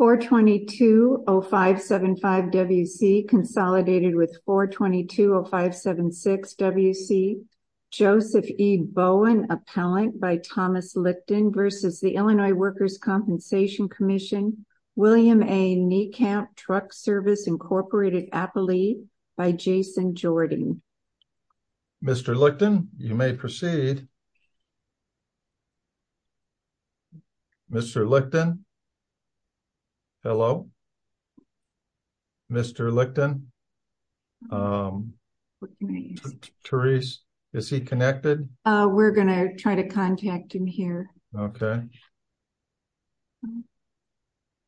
422-0575-WC consolidated with 422-0576-WC Joseph E. Bowen appellant by Thomas Lichten v. Illinois Workers' Compensation Comm'n William A. Niekamp Truck Service Inc. Appellee by Jason Jordan Mr. Lichten, you may proceed. Mr. Lichten? Hello? Mr. Lichten? Therese, is he connected? We're going to try to contact him here. Okay.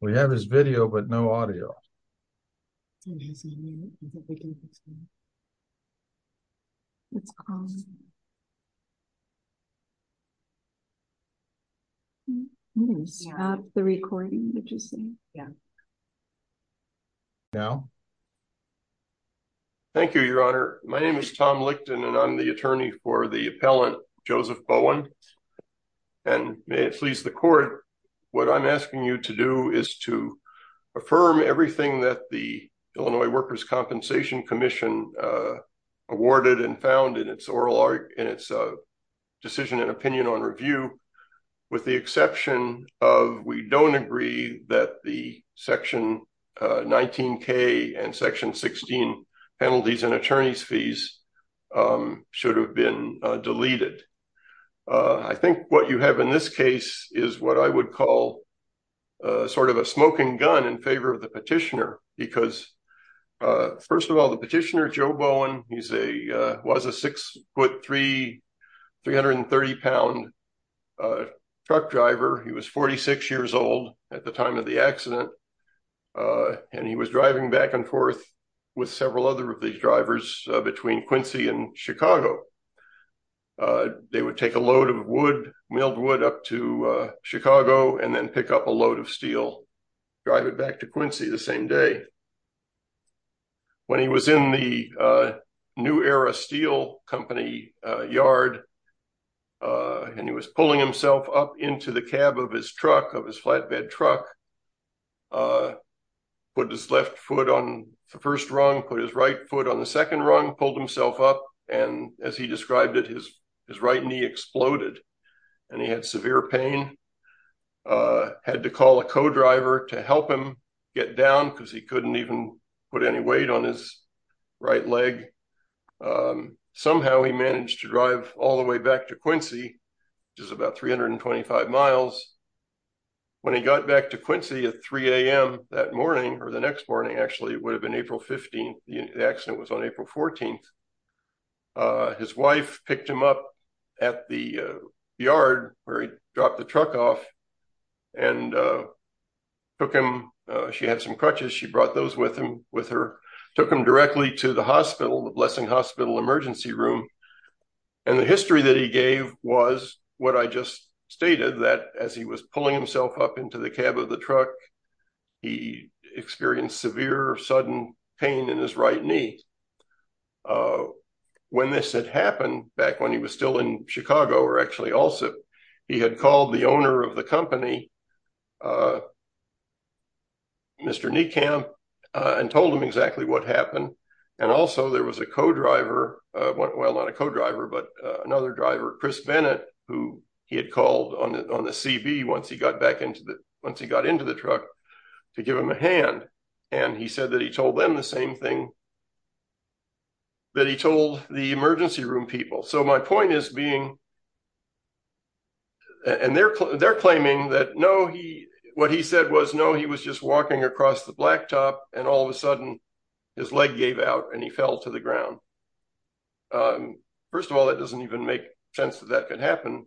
We have his video but no audio. We didn't stop the recording, did you see? Yeah. Now? Thank you, Your Honor. My name is Tom Lichten and I'm the attorney for the appellant Joseph Bowen and may it please the court, what I'm asking you to do is to affirm everything that the Illinois Workers' Compensation Commission awarded and found in its decision and opinion on review with the exception of we don't agree that the section 19K and section 16 penalties and attorneys fees should have been deleted. I think what you have in this case is what I would call sort of a smoking gun in favor of the petitioner because first of all the petitioner, Joe Bowen, he was a 6'3", 330 pound truck driver. He was 46 years old at the time of the accident and he was driving back and forth with several other of these drivers between Quincy and Chicago. They would take a load of wood, milled wood, up to Chicago and then pick up a load of steel, drive it back to Quincy the same day. When he was in the New Era Steel Company yard and he was pulling himself up into the cab of his truck, of his flatbed truck, put his left foot on the first rung, put his right foot on second rung, pulled himself up and as he described it his right knee exploded and he had severe pain. Had to call a co-driver to help him get down because he couldn't even put any weight on his right leg. Somehow he managed to drive all the way back to Quincy which is about 325 miles. When he got back to Quincy at 3 a.m. that morning, or the next morning actually, it would have been April 15th, the accident was on April 14th, his wife picked him up at the yard where he dropped the truck off and took him, she had some crutches, she brought those with him with her, took him directly to the hospital, the Blessing Hospital Emergency Room and the history that he gave was what I just stated that as he was pulling himself up into the cab of the truck he experienced severe sudden pain in his right knee. When this had happened back when he was still in Chicago or actually also he had called the owner of the company, Mr. Niekamp, and told him exactly what happened and also there was a co-driver, well not a co-driver, but another to give him a hand and he said that he told them the same thing that he told the emergency room people. So my point is being, and they're claiming that no he, what he said was no he was just walking across the blacktop and all of a sudden his leg gave out and he fell to the ground. First of all that doesn't even make sense that that could happen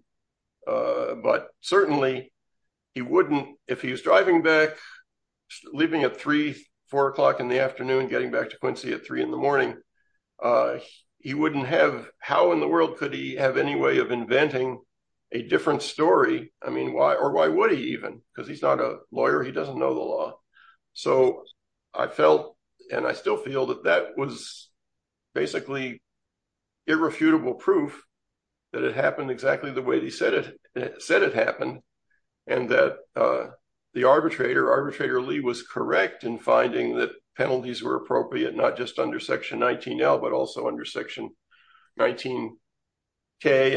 but certainly he wouldn't, if he was driving back leaving at three, four o'clock in the afternoon getting back to Quincy at three in the morning, he wouldn't have, how in the world could he have any way of inventing a different story, I mean why or why would he even because he's not a lawyer, he doesn't know the law. So I felt and I still feel that that was basically irrefutable proof that it happened exactly the way they said it, said it happened and that the arbitrator, Arbitrator Lee was correct in finding that penalties were appropriate not just under section 19L but also under section 19K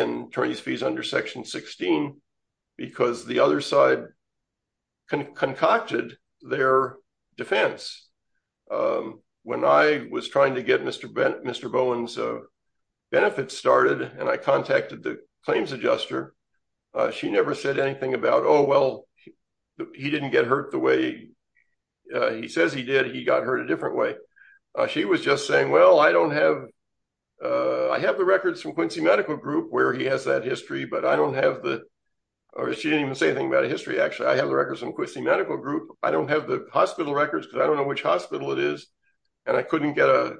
and the other side concocted their defense. When I was trying to get Mr. Bowen's benefits started and I contacted the claims adjuster, she never said anything about oh well he didn't get hurt the way he says he did, he got hurt a different way. She was just saying well I don't have, I have the records from Quincy Medical Group where he has that history but I don't have or she didn't even say anything about a history actually, I have the records from Quincy Medical Group, I don't have the hospital records because I don't know which hospital it is and I couldn't get a,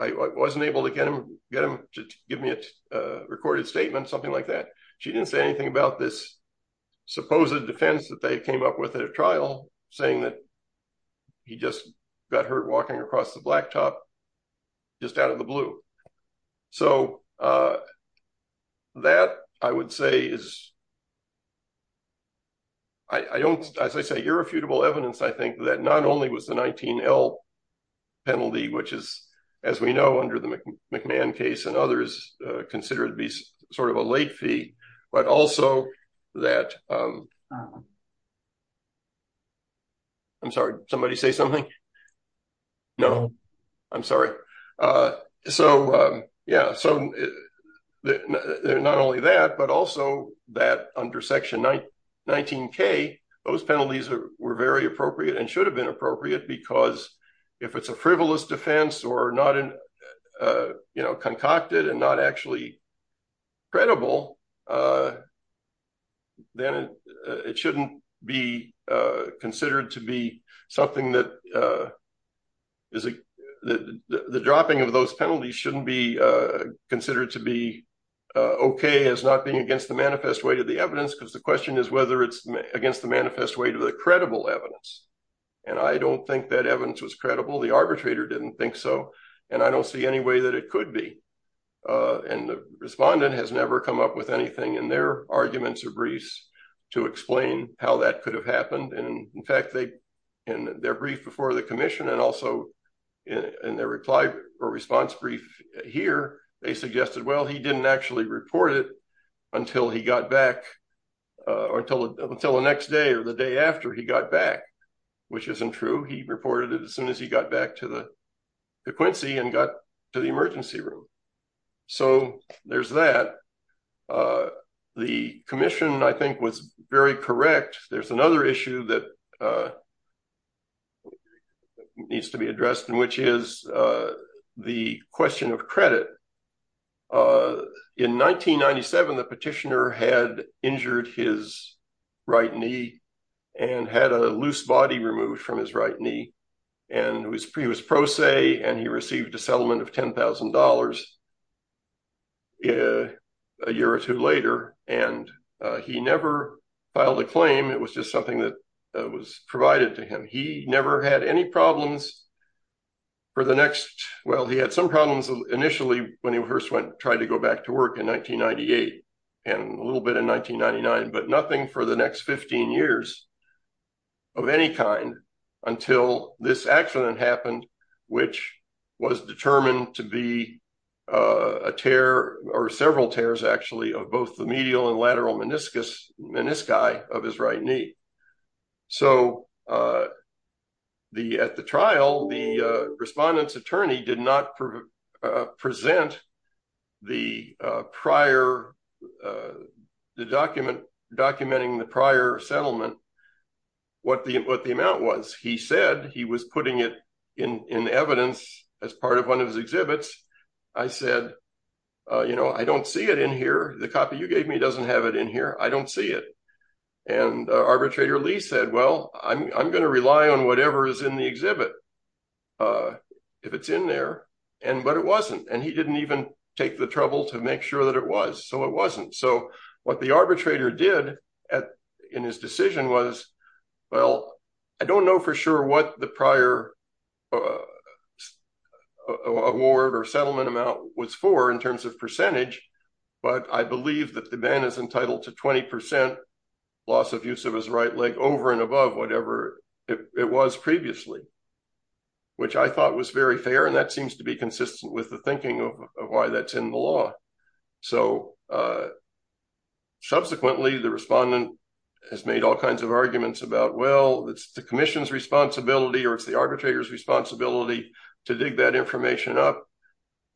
I wasn't able to get him to give me a recorded statement something like that. She didn't say anything about this supposed defense that they came up with at a trial saying that he just got hurt walking across the blacktop just out of the blue. So that I would say is, I don't, as I say irrefutable evidence I think that not only was the 19L penalty which is as we know under the McMahon case and others considered to be sort of a late fee but also that I'm sorry, somebody say something? No, I'm sorry. So yeah, so not only that but also that under section 19K, those penalties were very appropriate and should have been appropriate because if it's a frivolous defense or not, you know, concocted and not actually credible, then it shouldn't be considered to be something that is, the dropping of those penalties shouldn't be considered to be okay as not being against the manifest weight of the evidence because the question is whether it's against the manifest weight of the credible evidence and I don't think that evidence was credible, the arbitrator didn't think so and I don't see any way that it could be and the respondent has never come up with anything in their arguments or briefs to explain how that could have happened and in fact they in their brief before the commission and also in their reply or response brief here, they suggested well he didn't actually report it until he got back or until the next day or the day after he got back which isn't true, he reported it as soon as he got back to the Quincy and got to the emergency room. So there's that, the commission I think was very correct, there's another issue that needs to be addressed and which is the question of credit. In 1997, the petitioner had injured his right knee and had a loose body removed from his right knee and he was pro se and he received a settlement of $10,000 a year or two later and he never filed a claim, it was just something that was provided to him, he never had any problems for the next, well he had some problems initially when he first went tried to go back to work in 1998 and a little bit in 1999 but nothing for the next 15 years of any kind until this accident happened which was determined to be a tear or several tears actually of both the medial and the respondent's attorney did not present the prior, the document documenting the prior settlement what the amount was. He said he was putting it in evidence as part of one of his exhibits, I said you know I don't see it in here, the copy you gave me doesn't have it in here, I don't see it and arbitrator Lee said well I'm going to rely on whatever is in the exhibit uh if it's in there and but it wasn't and he didn't even take the trouble to make sure that it was so it wasn't so what the arbitrator did at in his decision was well I don't know for sure what the prior uh award or settlement amount was for in terms of percentage but I believe that the man is entitled to 20 percent loss of use of his right leg over and above whatever it was previously which I thought was very fair and that seems to be consistent with the thinking of why that's in the law so uh subsequently the respondent has made all kinds of arguments about well it's the commission's responsibility or it's the arbitrator's responsibility to dig that information up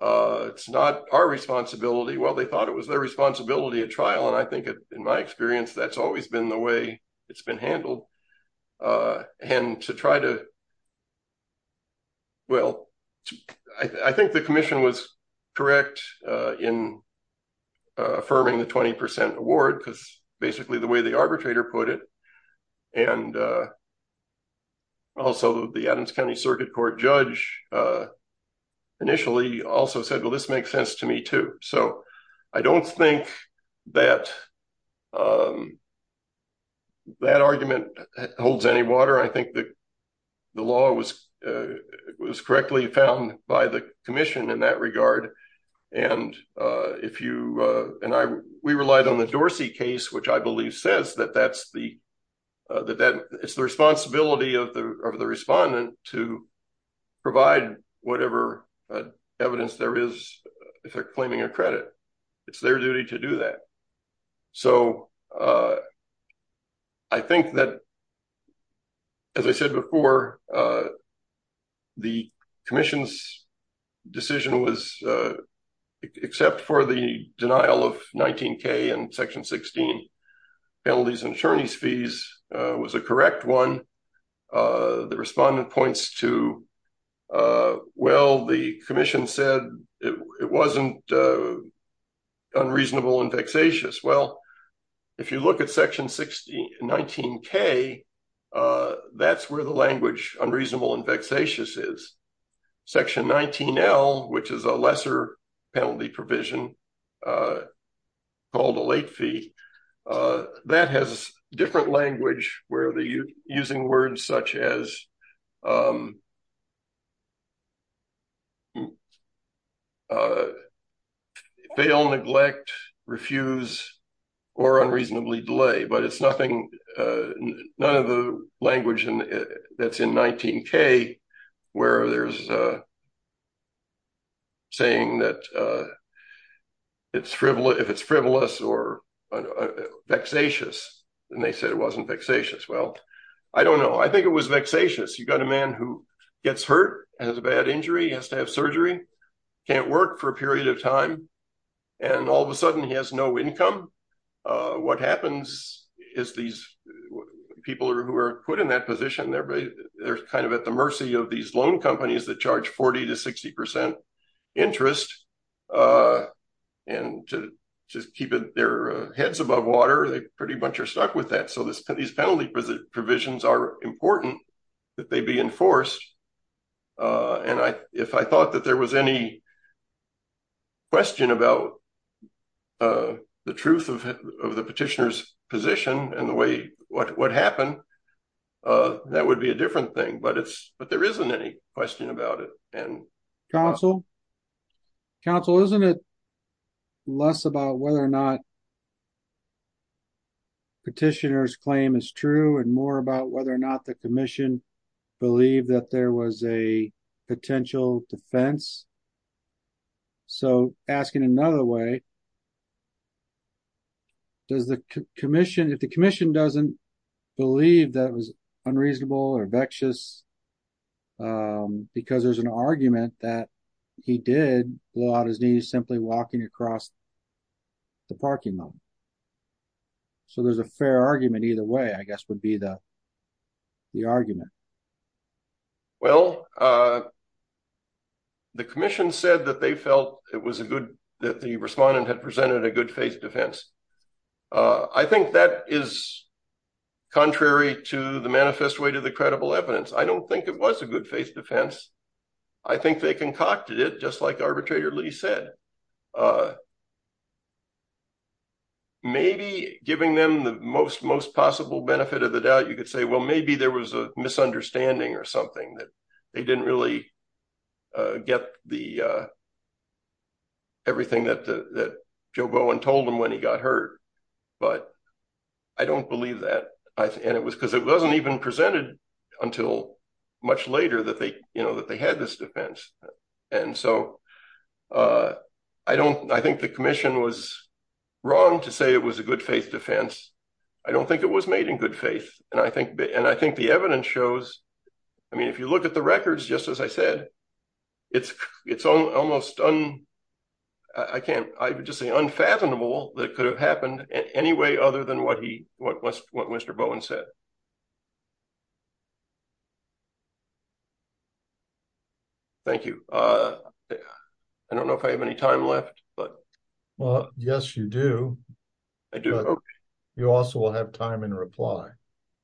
uh it's not our responsibility well they thought it was their responsibility at trial and I think in my experience that's always been the way it's handled uh and to try to well I think the commission was correct uh in uh affirming the 20 award because basically the way the arbitrator put it and uh also the adams county circuit court judge uh initially also said well this makes sense to me too so I don't think that um that argument holds any water I think that the law was uh was correctly found by the commission in that regard and uh if you uh and I we relied on the Dorsey case which I believe says that that's the uh that that it's the responsibility of the of the respondent to provide whatever evidence there is if they're claiming a credit it's their duty to do that so uh I think that as I said before uh the commission's decision was uh except for the denial of 19k and section 16 penalties and attorney's fees uh was a correct one uh the respondent points to uh well the commission said it wasn't uh unreasonable and vexatious well if you look at section 60 19k uh that's where the language unreasonable and vexatious is section 19l which is a lesser penalty provision uh called a late fee uh that has different language where the using words such as um uh fail neglect refuse or unreasonably delay but it's nothing uh none of the language in that's in 19k where there's a saying that uh it's frivolous if it's frivolous or vexatious and they said it wasn't vexatious well I don't know I think it was vexatious you got a man who gets hurt has a bad injury has to have surgery can't work for a period of time and all of a sudden he has no income uh what happens is these people who are put in that position they're they're kind of at the mercy of these loan companies that charge 40 to 60 percent interest uh and to just keep their heads above water they pretty much are stuck with that so this these penalty provisions are important that they be enforced uh and I if I thought that there was any question about uh the truth of the petitioner's position and the way what what happened uh that would be a different thing but it's but there isn't any question about it and counsel counsel isn't it less about whether or not petitioner's claim is true and more about whether or not the commission believed that there was a potential defense so asking another way does the commission if the commission doesn't believe that it was unreasonable or vexatious because there's an argument that he did blow out his knees simply walking across the parking lot so there's a fair argument either way I guess would be the the argument well uh the commission said that they felt it was a good that the respondent had presented a good faith defense uh I think that is contrary to the manifest way to the credible evidence I don't think it was a good faith defense I think they concocted it just like arbitrator lee said uh maybe giving them the most most possible benefit of the doubt you could say well maybe there was a misunderstanding or something that they didn't really uh get the uh everything that that Joe Bowen told him when he got hurt but I don't believe that I and it was because it wasn't even presented until much later that they you know that they had this defense and so uh I don't I think the commission was wrong to say it was a good faith defense I don't think it was made in good faith and I think and I think the evidence shows I mean if you look at the records just as I said it's it's almost un I can't I would just say unfathomable that could have happened in any way other than what he what was what Mr. Bowen said you thank you uh I don't know if I have any time left but well yes you do I do you also will have time in reply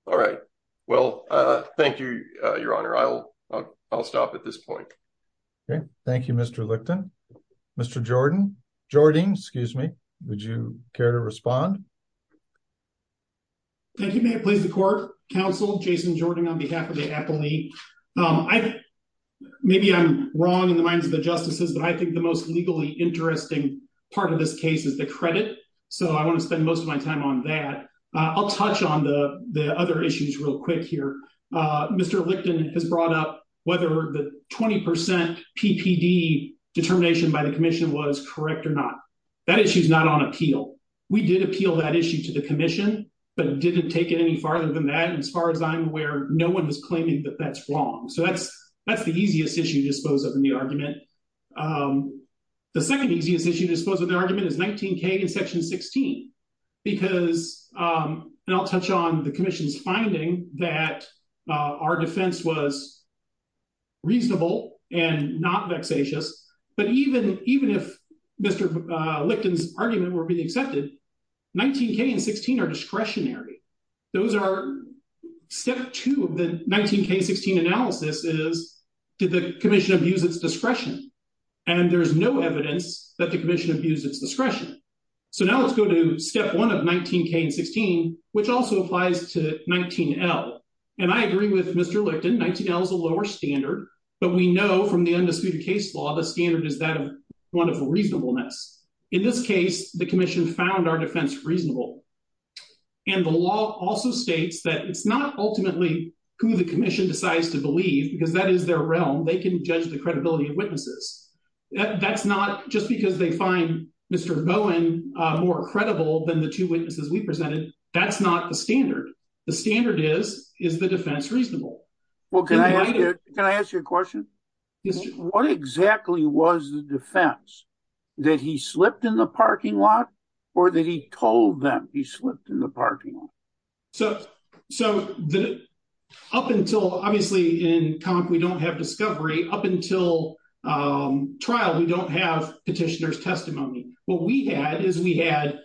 all right well uh thank you uh your honor I'll I'll stop at this point okay thank you Mr. Licton Mr. Jordan Jordan excuse me would you care to respond thank you may it please the Jason Jordan on behalf of the appellee um I maybe I'm wrong in the minds of the justices but I think the most legally interesting part of this case is the credit so I want to spend most of my time on that uh I'll touch on the the other issues real quick here uh Mr. Licton has brought up whether the 20 percent PPD determination by the commission was correct or not that issue's not on appeal we did appeal that issue to the commission but it didn't take it any farther than that as far as I'm aware no one was claiming that that's wrong so that's that's the easiest issue to dispose of in the argument um the second easiest issue disposed of the argument is 19k in section 16 because um and I'll touch on the commission's finding that uh our defense was reasonable and not vexatious but even even if Mr. Licton's argument were being accepted 19k and 16 are discretionary those are step two of the 19k 16 analysis is did the commission abuse its discretion and there's no evidence that the commission abused its discretion so now let's go to step one of 19k and 16 which also applies to 19l and I agree with Mr. Licton 19l is a lower standard but we know from the undisputed case law the standard is that of wonderful reasonableness in this case the commission found our defense reasonable and the law also states that it's not ultimately who the commission decides to believe because that is their realm they can judge the credibility of witnesses that's not just because they find Mr. Bowen uh more credible than the two witnesses we presented that's not the standard the standard is is the defense reasonable okay can I ask you a what exactly was the defense that he slipped in the parking lot or that he told them he slipped in the parking lot so so the up until obviously in comp we don't have discovery up until um trial we don't have petitioner's testimony what we had is we had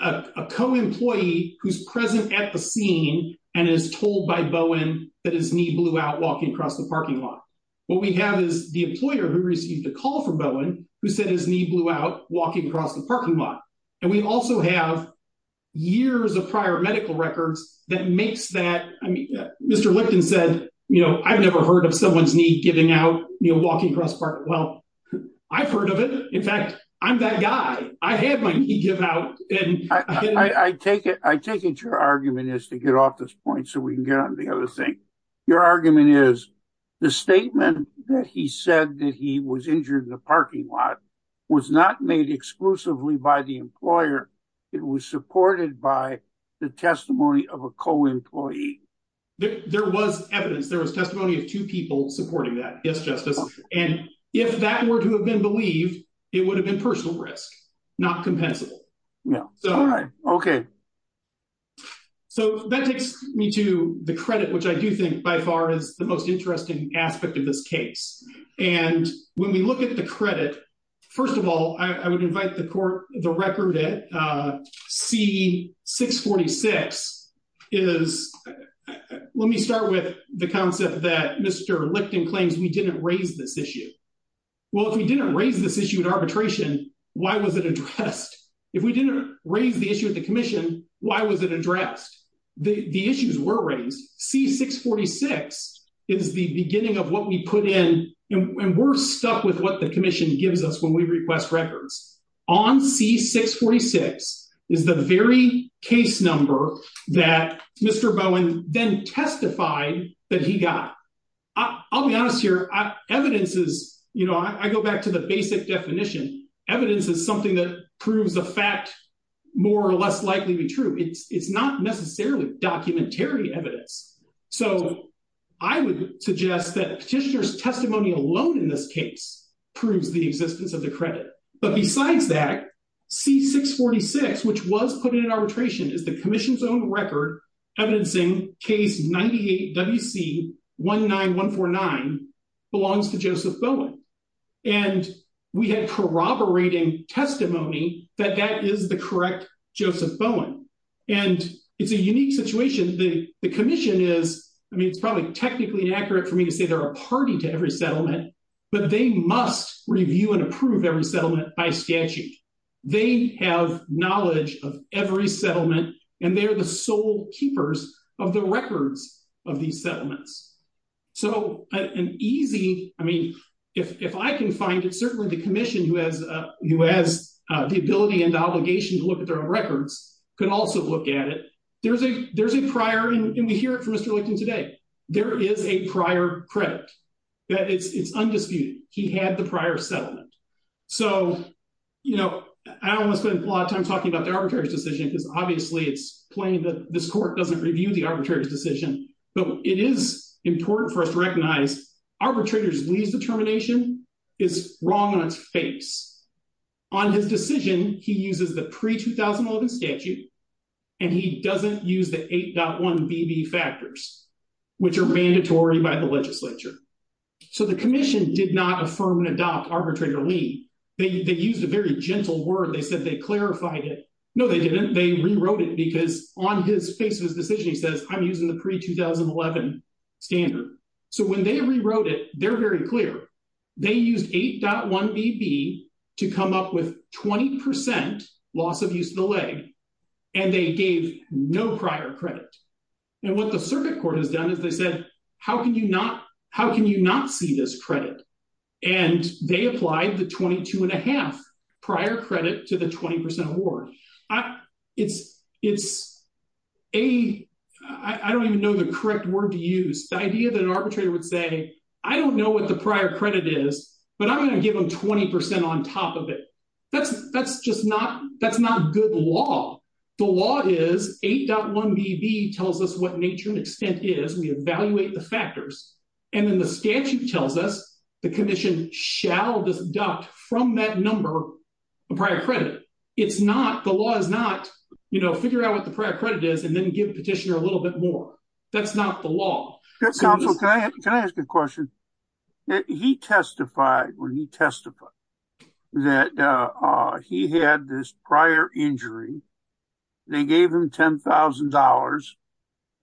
a co-employee who's present at the scene and is told by Bowen that his knee blew out walking across the parking lot what we have is the employer who received a call from Bowen who said his knee blew out walking across the parking lot and we also have years of prior medical records that makes that I mean Mr. Licton said you know I've never heard of someone's knee giving out you know walking across part well I've heard of it in fact I'm that guy I had my knee give out and I I take it I take it your argument is to get off this point so we can get on the other thing your argument is the statement that he said that he was injured in the parking lot was not made exclusively by the employer it was supported by the testimony of a co-employee there was evidence there was testimony of two people supporting that yes justice and if that were to have been believed it would have been risk not compensable yeah all right okay so that takes me to the credit which I do think by far is the most interesting aspect of this case and when we look at the credit first of all I would invite the court the record at C646 is let me start with the concept that Mr. Licton claims we didn't raise this issue well if we didn't raise this issue at arbitration why was it addressed if we didn't raise the issue at the commission why was it addressed the the issues were raised C646 is the beginning of what we put in and we're stuck with what the commission gives us when we request records on C646 is the very case number that Mr. Bowen then testified that he got I'll be honest here evidence is you know I go back to the basic definition evidence is something that proves the fact more or less likely to be true it's it's not necessarily documentary evidence so I would suggest that petitioner's testimony alone in this case proves the existence of the credit but besides that C646 which was put in arbitration is the commission's own record evidencing case 98 WC 19149 belongs to Joseph Bowen and we had corroborating testimony that that is the correct Joseph Bowen and it's a unique situation the the commission is I mean it's probably technically inaccurate for me to say they're a party to every settlement but they must review and approve every settlement by statute they have knowledge of every settlement and they're the keepers of the records of these settlements so an easy I mean if if I can find it certainly the commission who has uh who has uh the ability and obligation to look at their own records could also look at it there's a there's a prior and we hear it from Mr. Lichten today there is a prior credit that it's it's undisputed he had the prior settlement so you know I almost a lot of times talking about the arbitrator's decision because obviously it's plain that this court doesn't review the arbitrator's decision but it is important for us to recognize arbitrator's lease determination is wrong on its face on his decision he uses the pre-2011 statute and he doesn't use the 8.1 bb factors which are mandatory by the legislature so the commission did not affirm and adopt arbitrator leave they used a very gentle word they said they clarified it no they didn't they rewrote it because on his face of his decision he says I'm using the pre-2011 standard so when they rewrote it they're very clear they used 8.1 bb to come up with 20 percent loss of use of the leg and they gave no prior credit and what the circuit court has done they said how can you not how can you not see this credit and they applied the 22 and a half prior credit to the 20 award I it's it's a I don't even know the correct word to use the idea that an arbitrator would say I don't know what the prior credit is but I'm going to give them 20 on top of it that's that's just not that's not good law the law is 8.1 bb tells us what nature and is we evaluate the factors and then the statute tells us the condition shall deduct from that number a prior credit it's not the law is not you know figure out what the prior credit is and then give petitioner a little bit more that's not the law counsel can I ask a question he testified when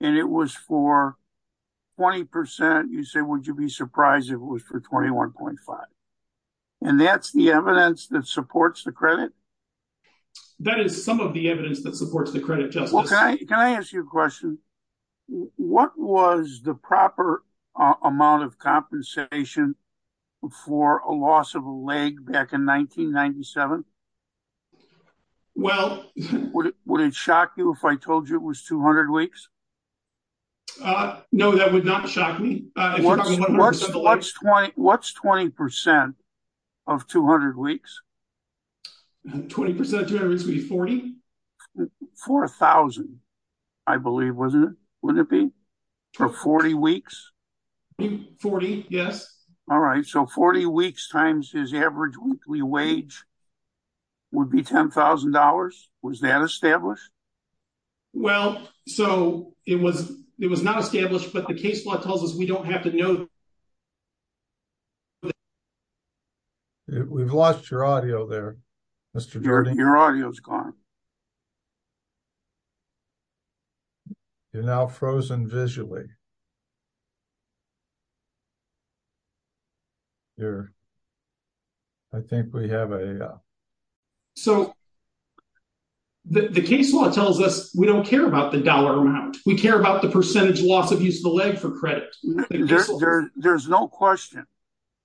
and it was for 20 percent you say would you be surprised if it was for 21.5 and that's the evidence that supports the credit that is some of the evidence that supports the credit just okay can I ask you a question what was the proper amount of compensation for a loss of a leg back in 1997 well would it shock you if I told you it was 200 weeks uh no that would not shock me uh what's what's 20 what's 20 percent of 200 weeks 20 percent 240 for a thousand I believe wasn't it wouldn't it be for 40 weeks 40 yes all right so 40 weeks times his average weekly wage would be ten thousand dollars was that established well so it was it was not established but the case law tells us we don't have to know we've lost your audio there mr jordan your audio is gone you're now frozen visually there I think we have a so the case law tells us we don't care about the dollar amount we care about the percentage loss of use of the leg for credit there's no question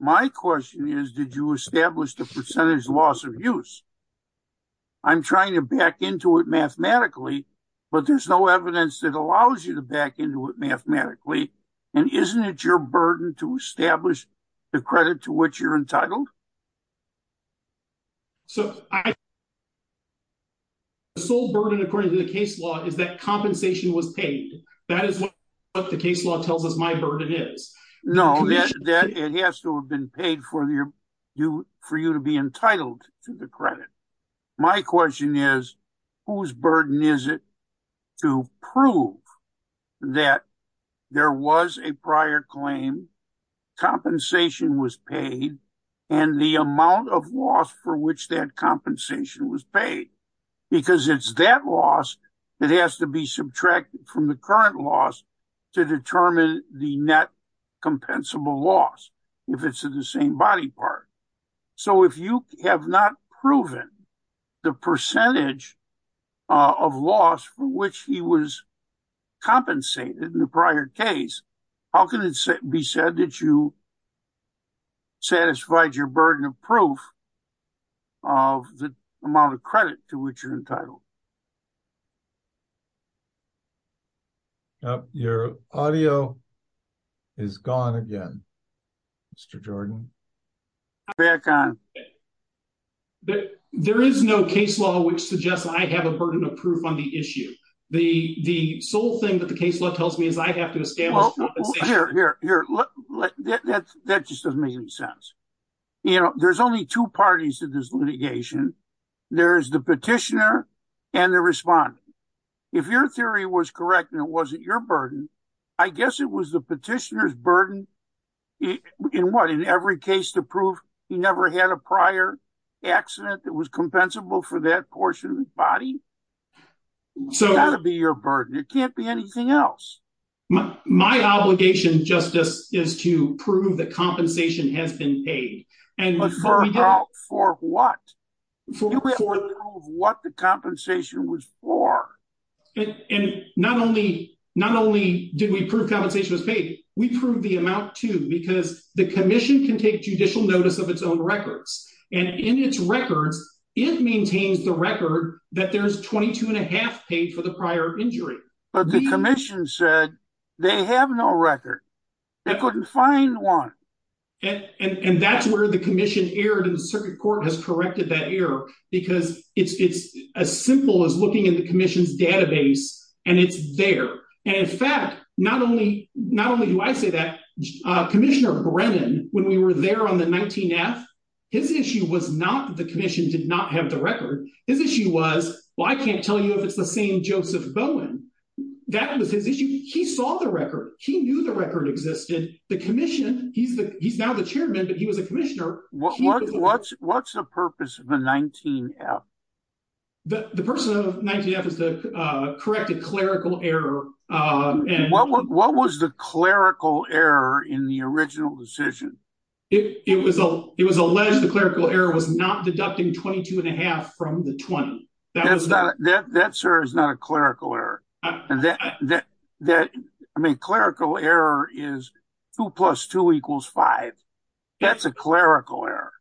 my question is did you establish the percentage loss of use I'm trying to back into it mathematically but there's no and isn't it your burden to establish the credit to which you're entitled so I sold burden according to the case law is that compensation was paid that is what the case law tells us my burden is no that it has to have been paid for your you for you to be entitled to the credit my question is whose burden is it to prove that there was a prior claim compensation was paid and the amount of loss for which that compensation was paid because it's that loss that has to be subtracted from the current loss to determine the net compensable loss if it's in the same body part so if you have not proven the percentage of loss for which he was compensated in the prior case how can it be said that you satisfied your burden of proof of the amount of credit to which you're entitled to your audio is gone again mr jordan back on there is no case law which suggests I have a burden of proof on the issue the the sole thing that the case law tells me is I have to establish that just doesn't make any sense you know there's only two parties to this litigation there's the petitioner and the respondent if your theory was correct and it wasn't your burden I guess it was the petitioner's burden in what in every case to prove he never had a prior accident that was compensable for that portion of the body so that'll be your burden it can't be anything else my obligation justice is to prove that compensation has been paid and for for what for what the compensation was for and not only not only did we prove compensation was paid we proved the amount too because the commission can take judicial notice of its own records and in its records it maintains the record that there's 22 and a half paid for the prior injury but the commission said they have no record they couldn't find one and and that's where the commission erred and the circuit court has corrected that error because it's it's as simple as looking in the commission's database and it's there and in fact not only not only do I say that uh commissioner Brennan when we were there on the 19th his issue was not the commission did not have the record his issue was well I can't tell you if it's the same Joseph Bowen that was his issue he saw the record he knew the record existed the commission he's the he's now the chairman but he was a commissioner what what's what's the purpose of a 19f the the person of 19f is the uh corrected clerical error uh and what what was the clerical error in the original decision it it was a it was alleged the clerical error was not deducting 22 and a half from the 20 that was not that that sir is not a clerical error and that that that I mean clerical error is two plus two equals five that's a clerical error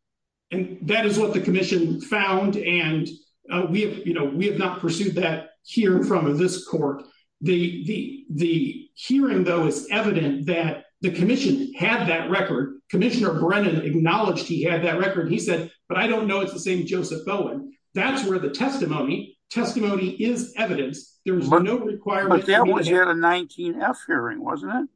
and that is what the commission found and uh we have you know we have not pursued that hearing from this court the the the hearing though is evident that the commission had that he said but I don't know it's the same Joseph Bowen that's where the testimony testimony is evidence there's no requirement that was you had a 19f hearing wasn't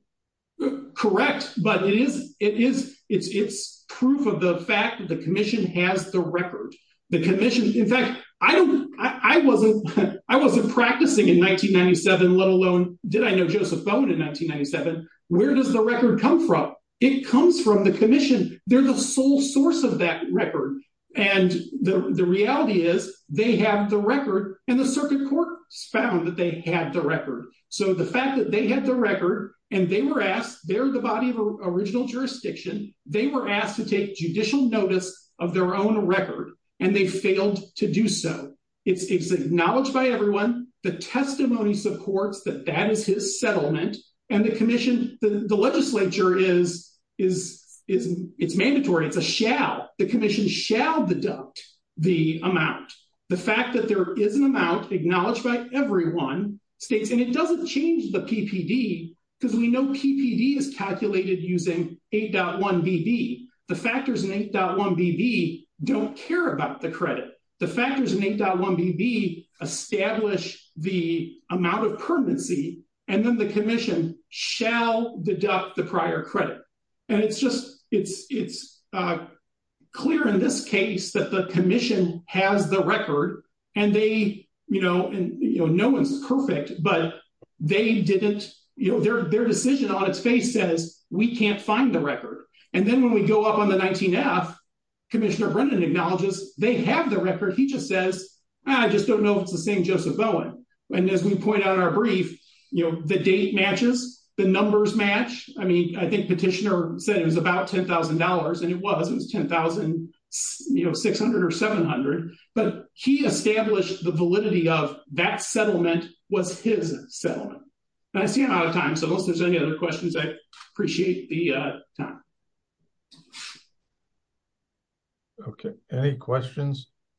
it correct but it is it is it's it's proof of the fact that the commission has the record the commission in fact I don't I wasn't I wasn't practicing in 1997 let alone did I know Joseph Bowen in 1997 where does the record come from it comes from the commission they're the sole source of that record and the the reality is they have the record and the circuit court found that they had the record so the fact that they had the record and they were asked they're the body of original jurisdiction they were asked to take judicial notice of their own record and they failed to do so it's acknowledged by everyone the testimony supports that that is his settlement and the commission the legislature is is it's mandatory it's a shall the commission shall deduct the amount the fact that there is an amount acknowledged by everyone states and it doesn't change the ppd because we know ppd is calculated using 8.1 bb the factors in 8.1 bb don't care about the credit the factors in 8.1 bb establish the amount of permanency and then the commission shall deduct the prior credit and it's just it's it's uh clear in this case that the commission has the record and they you know and you know no one's perfect but they didn't you know their their decision on its face says we can't find the record and then when we go up on the 19f commissioner brendan acknowledges they have the record he just says i just don't know if it's the same joseph bowen and as we point out in our brief you know the date matches the numbers match i mean i think petitioner said it was about ten thousand dollars and it was it was ten thousand you know six hundred or seven hundred but he established the validity of that settlement was his settlement i see him out of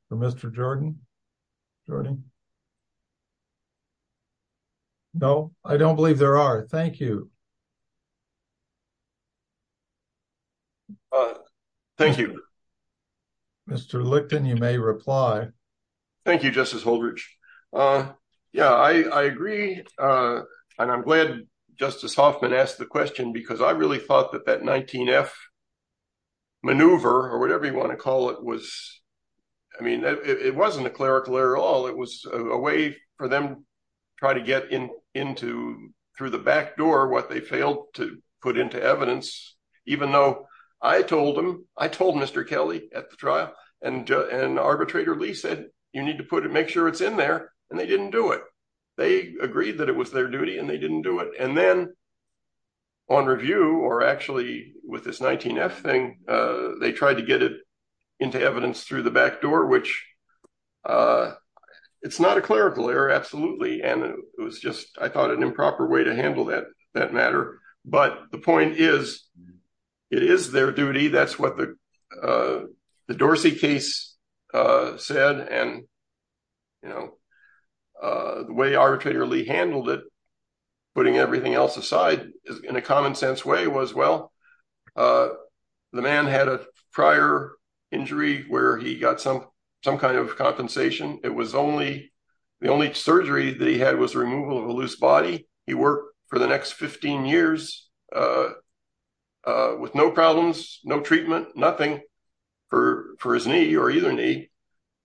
for mr jordan jordan no i don't believe there are thank you uh thank you mr licton you may reply thank you justice holdridge uh yeah i i agree uh and i'm glad justice hoffman asked the question because i really thought that that 19f maneuver or whatever you want to call it was i mean it wasn't a clerical error at all it was a way for them try to get in into through the back door what they failed to put into evidence even though i told him i told mr kelly at the trial and and arbitrator lee said you need to put it make sure it's in there and they didn't do it they agreed that it was their duty and they didn't do it and then on review or actually with this 19f thing uh they tried to get it into evidence through the back door which uh it's not a clerical error absolutely and it was just i thought an improper way to handle that that matter but the point is it is their duty that's what the uh the dorsey case uh said and you know uh the way arbitrator lee handled it putting everything else aside in a common sense way was well uh the man had a prior injury where he got some some kind of compensation it was only the only surgery that he had was removal of a loose body he worked for the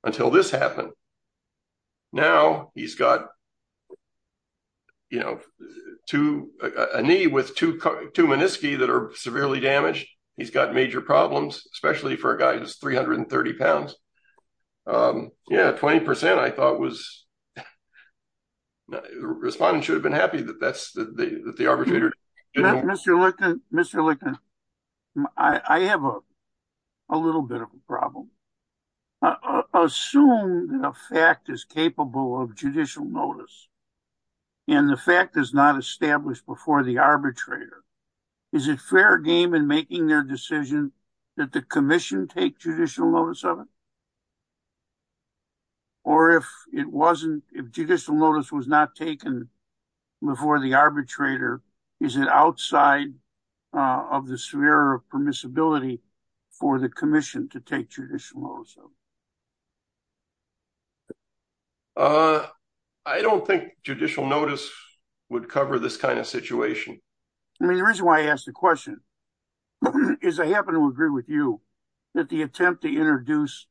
until this happened now he's got you know two a knee with two two menisci that are severely damaged he's got major problems especially for a guy who's 330 pounds um yeah 20 i thought was respondents should have been happy that that's the that the arbitrator mr lincoln mr lincoln i i have a a little bit of a problem assume that a fact is capable of judicial notice and the fact is not established before the arbitrator is it fair game in making their decision that the commission take judicial notice of it or if it wasn't if judicial notice was not taken before the arbitrator is it outside of the sphere of permissibility for the commission to take judicial notice of uh i don't think judicial notice would cover this kind of situation i mean the reason why i the question is i happen to agree with you that the attempt to introduce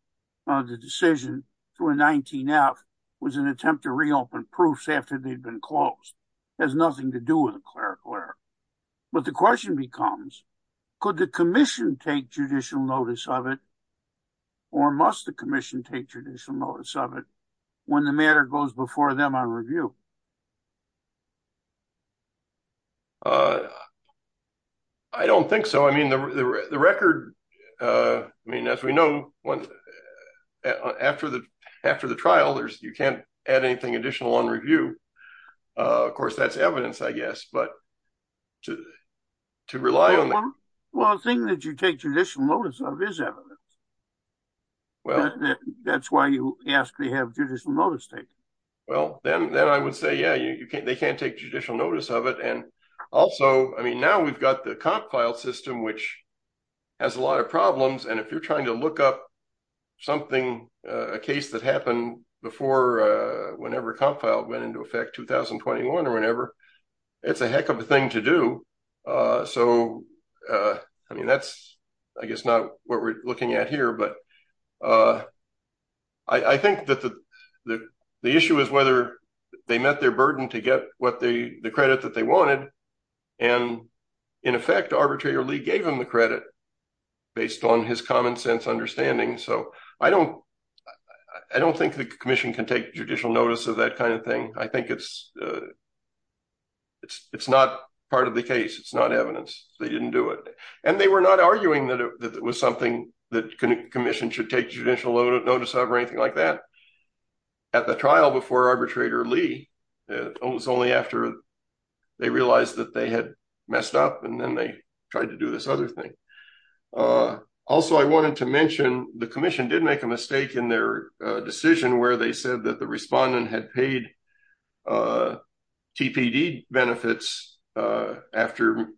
the decision through a 19f was an attempt to reopen proofs after they'd been closed has nothing to do with a cleric where but the question becomes could the commission take judicial notice of it or must the commission take judicial notice of it when the matter goes before them on review uh i don't think so i mean the the record uh i mean as we know once after the after the trial there's you can't add anything additional on review uh of course that's evidence i guess but to to rely on well the thing that you take judicial is evidence well that's why you ask they have judicial notice taken well then then i would say yeah you can't they can't take judicial notice of it and also i mean now we've got the comp file system which has a lot of problems and if you're trying to look up something uh a case that happened before uh whenever comp file went into effect 2021 or whenever it's a heck of a thing to uh so uh i mean that's i guess not what we're looking at here but uh i i think that the the issue is whether they met their burden to get what they the credit that they wanted and in effect arbitrarily gave him the credit based on his common sense understanding so i don't i don't think the commission can take judicial notice of that kind of thing i think it's uh it's it's not part of the case it's not evidence they didn't do it and they were not arguing that it was something that commission should take judicial notice of or anything like that at the trial before arbitrator lee it was only after they realized that they had messed up and then they tried to do this other thing uh also i wanted to mention the commission did make a mistake in their decision where they said that the respondent had paid uh tpd benefits uh after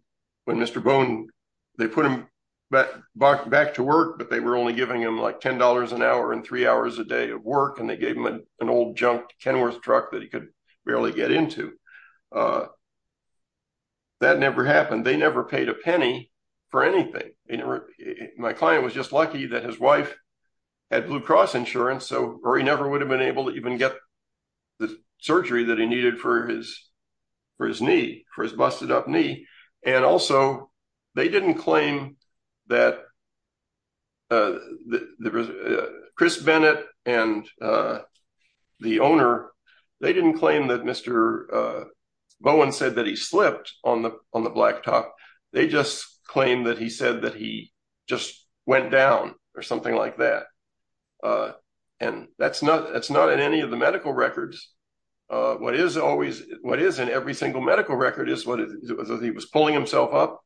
when mr bone they put him back back to work but they were only giving him like ten dollars an hour and three hours a day of work and they gave him an old junked kenworth truck that he could barely get into uh that never happened they never paid a penny for anything they never my client was just lucky that his wife had blue cross insurance so or he never would have been able to even get the surgery that he needed for his for his knee for his busted up knee and also they didn't claim that uh there was chris bennett and uh the owner they didn't claim that mr uh bowen said that he slipped on the on the blacktop they just claimed that he said that he just went down or something like that uh and that's not that's not in any of the medical records uh what is always what is in every single medical record is what it was he was pulling himself up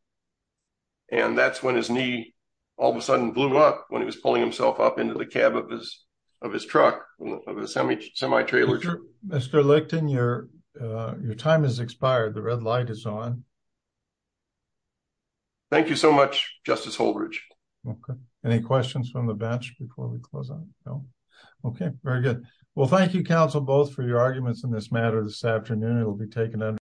and that's when his knee all of a sudden blew up when he was pulling himself up into the cab of his of his truck of a semi semi-trailer mr licton your uh your time has expired the red light is on thank you so much justice holbridge okay any questions from the bench before we close on no okay very good well thank you counsel both for your arguments in this matter this afternoon it will be taken under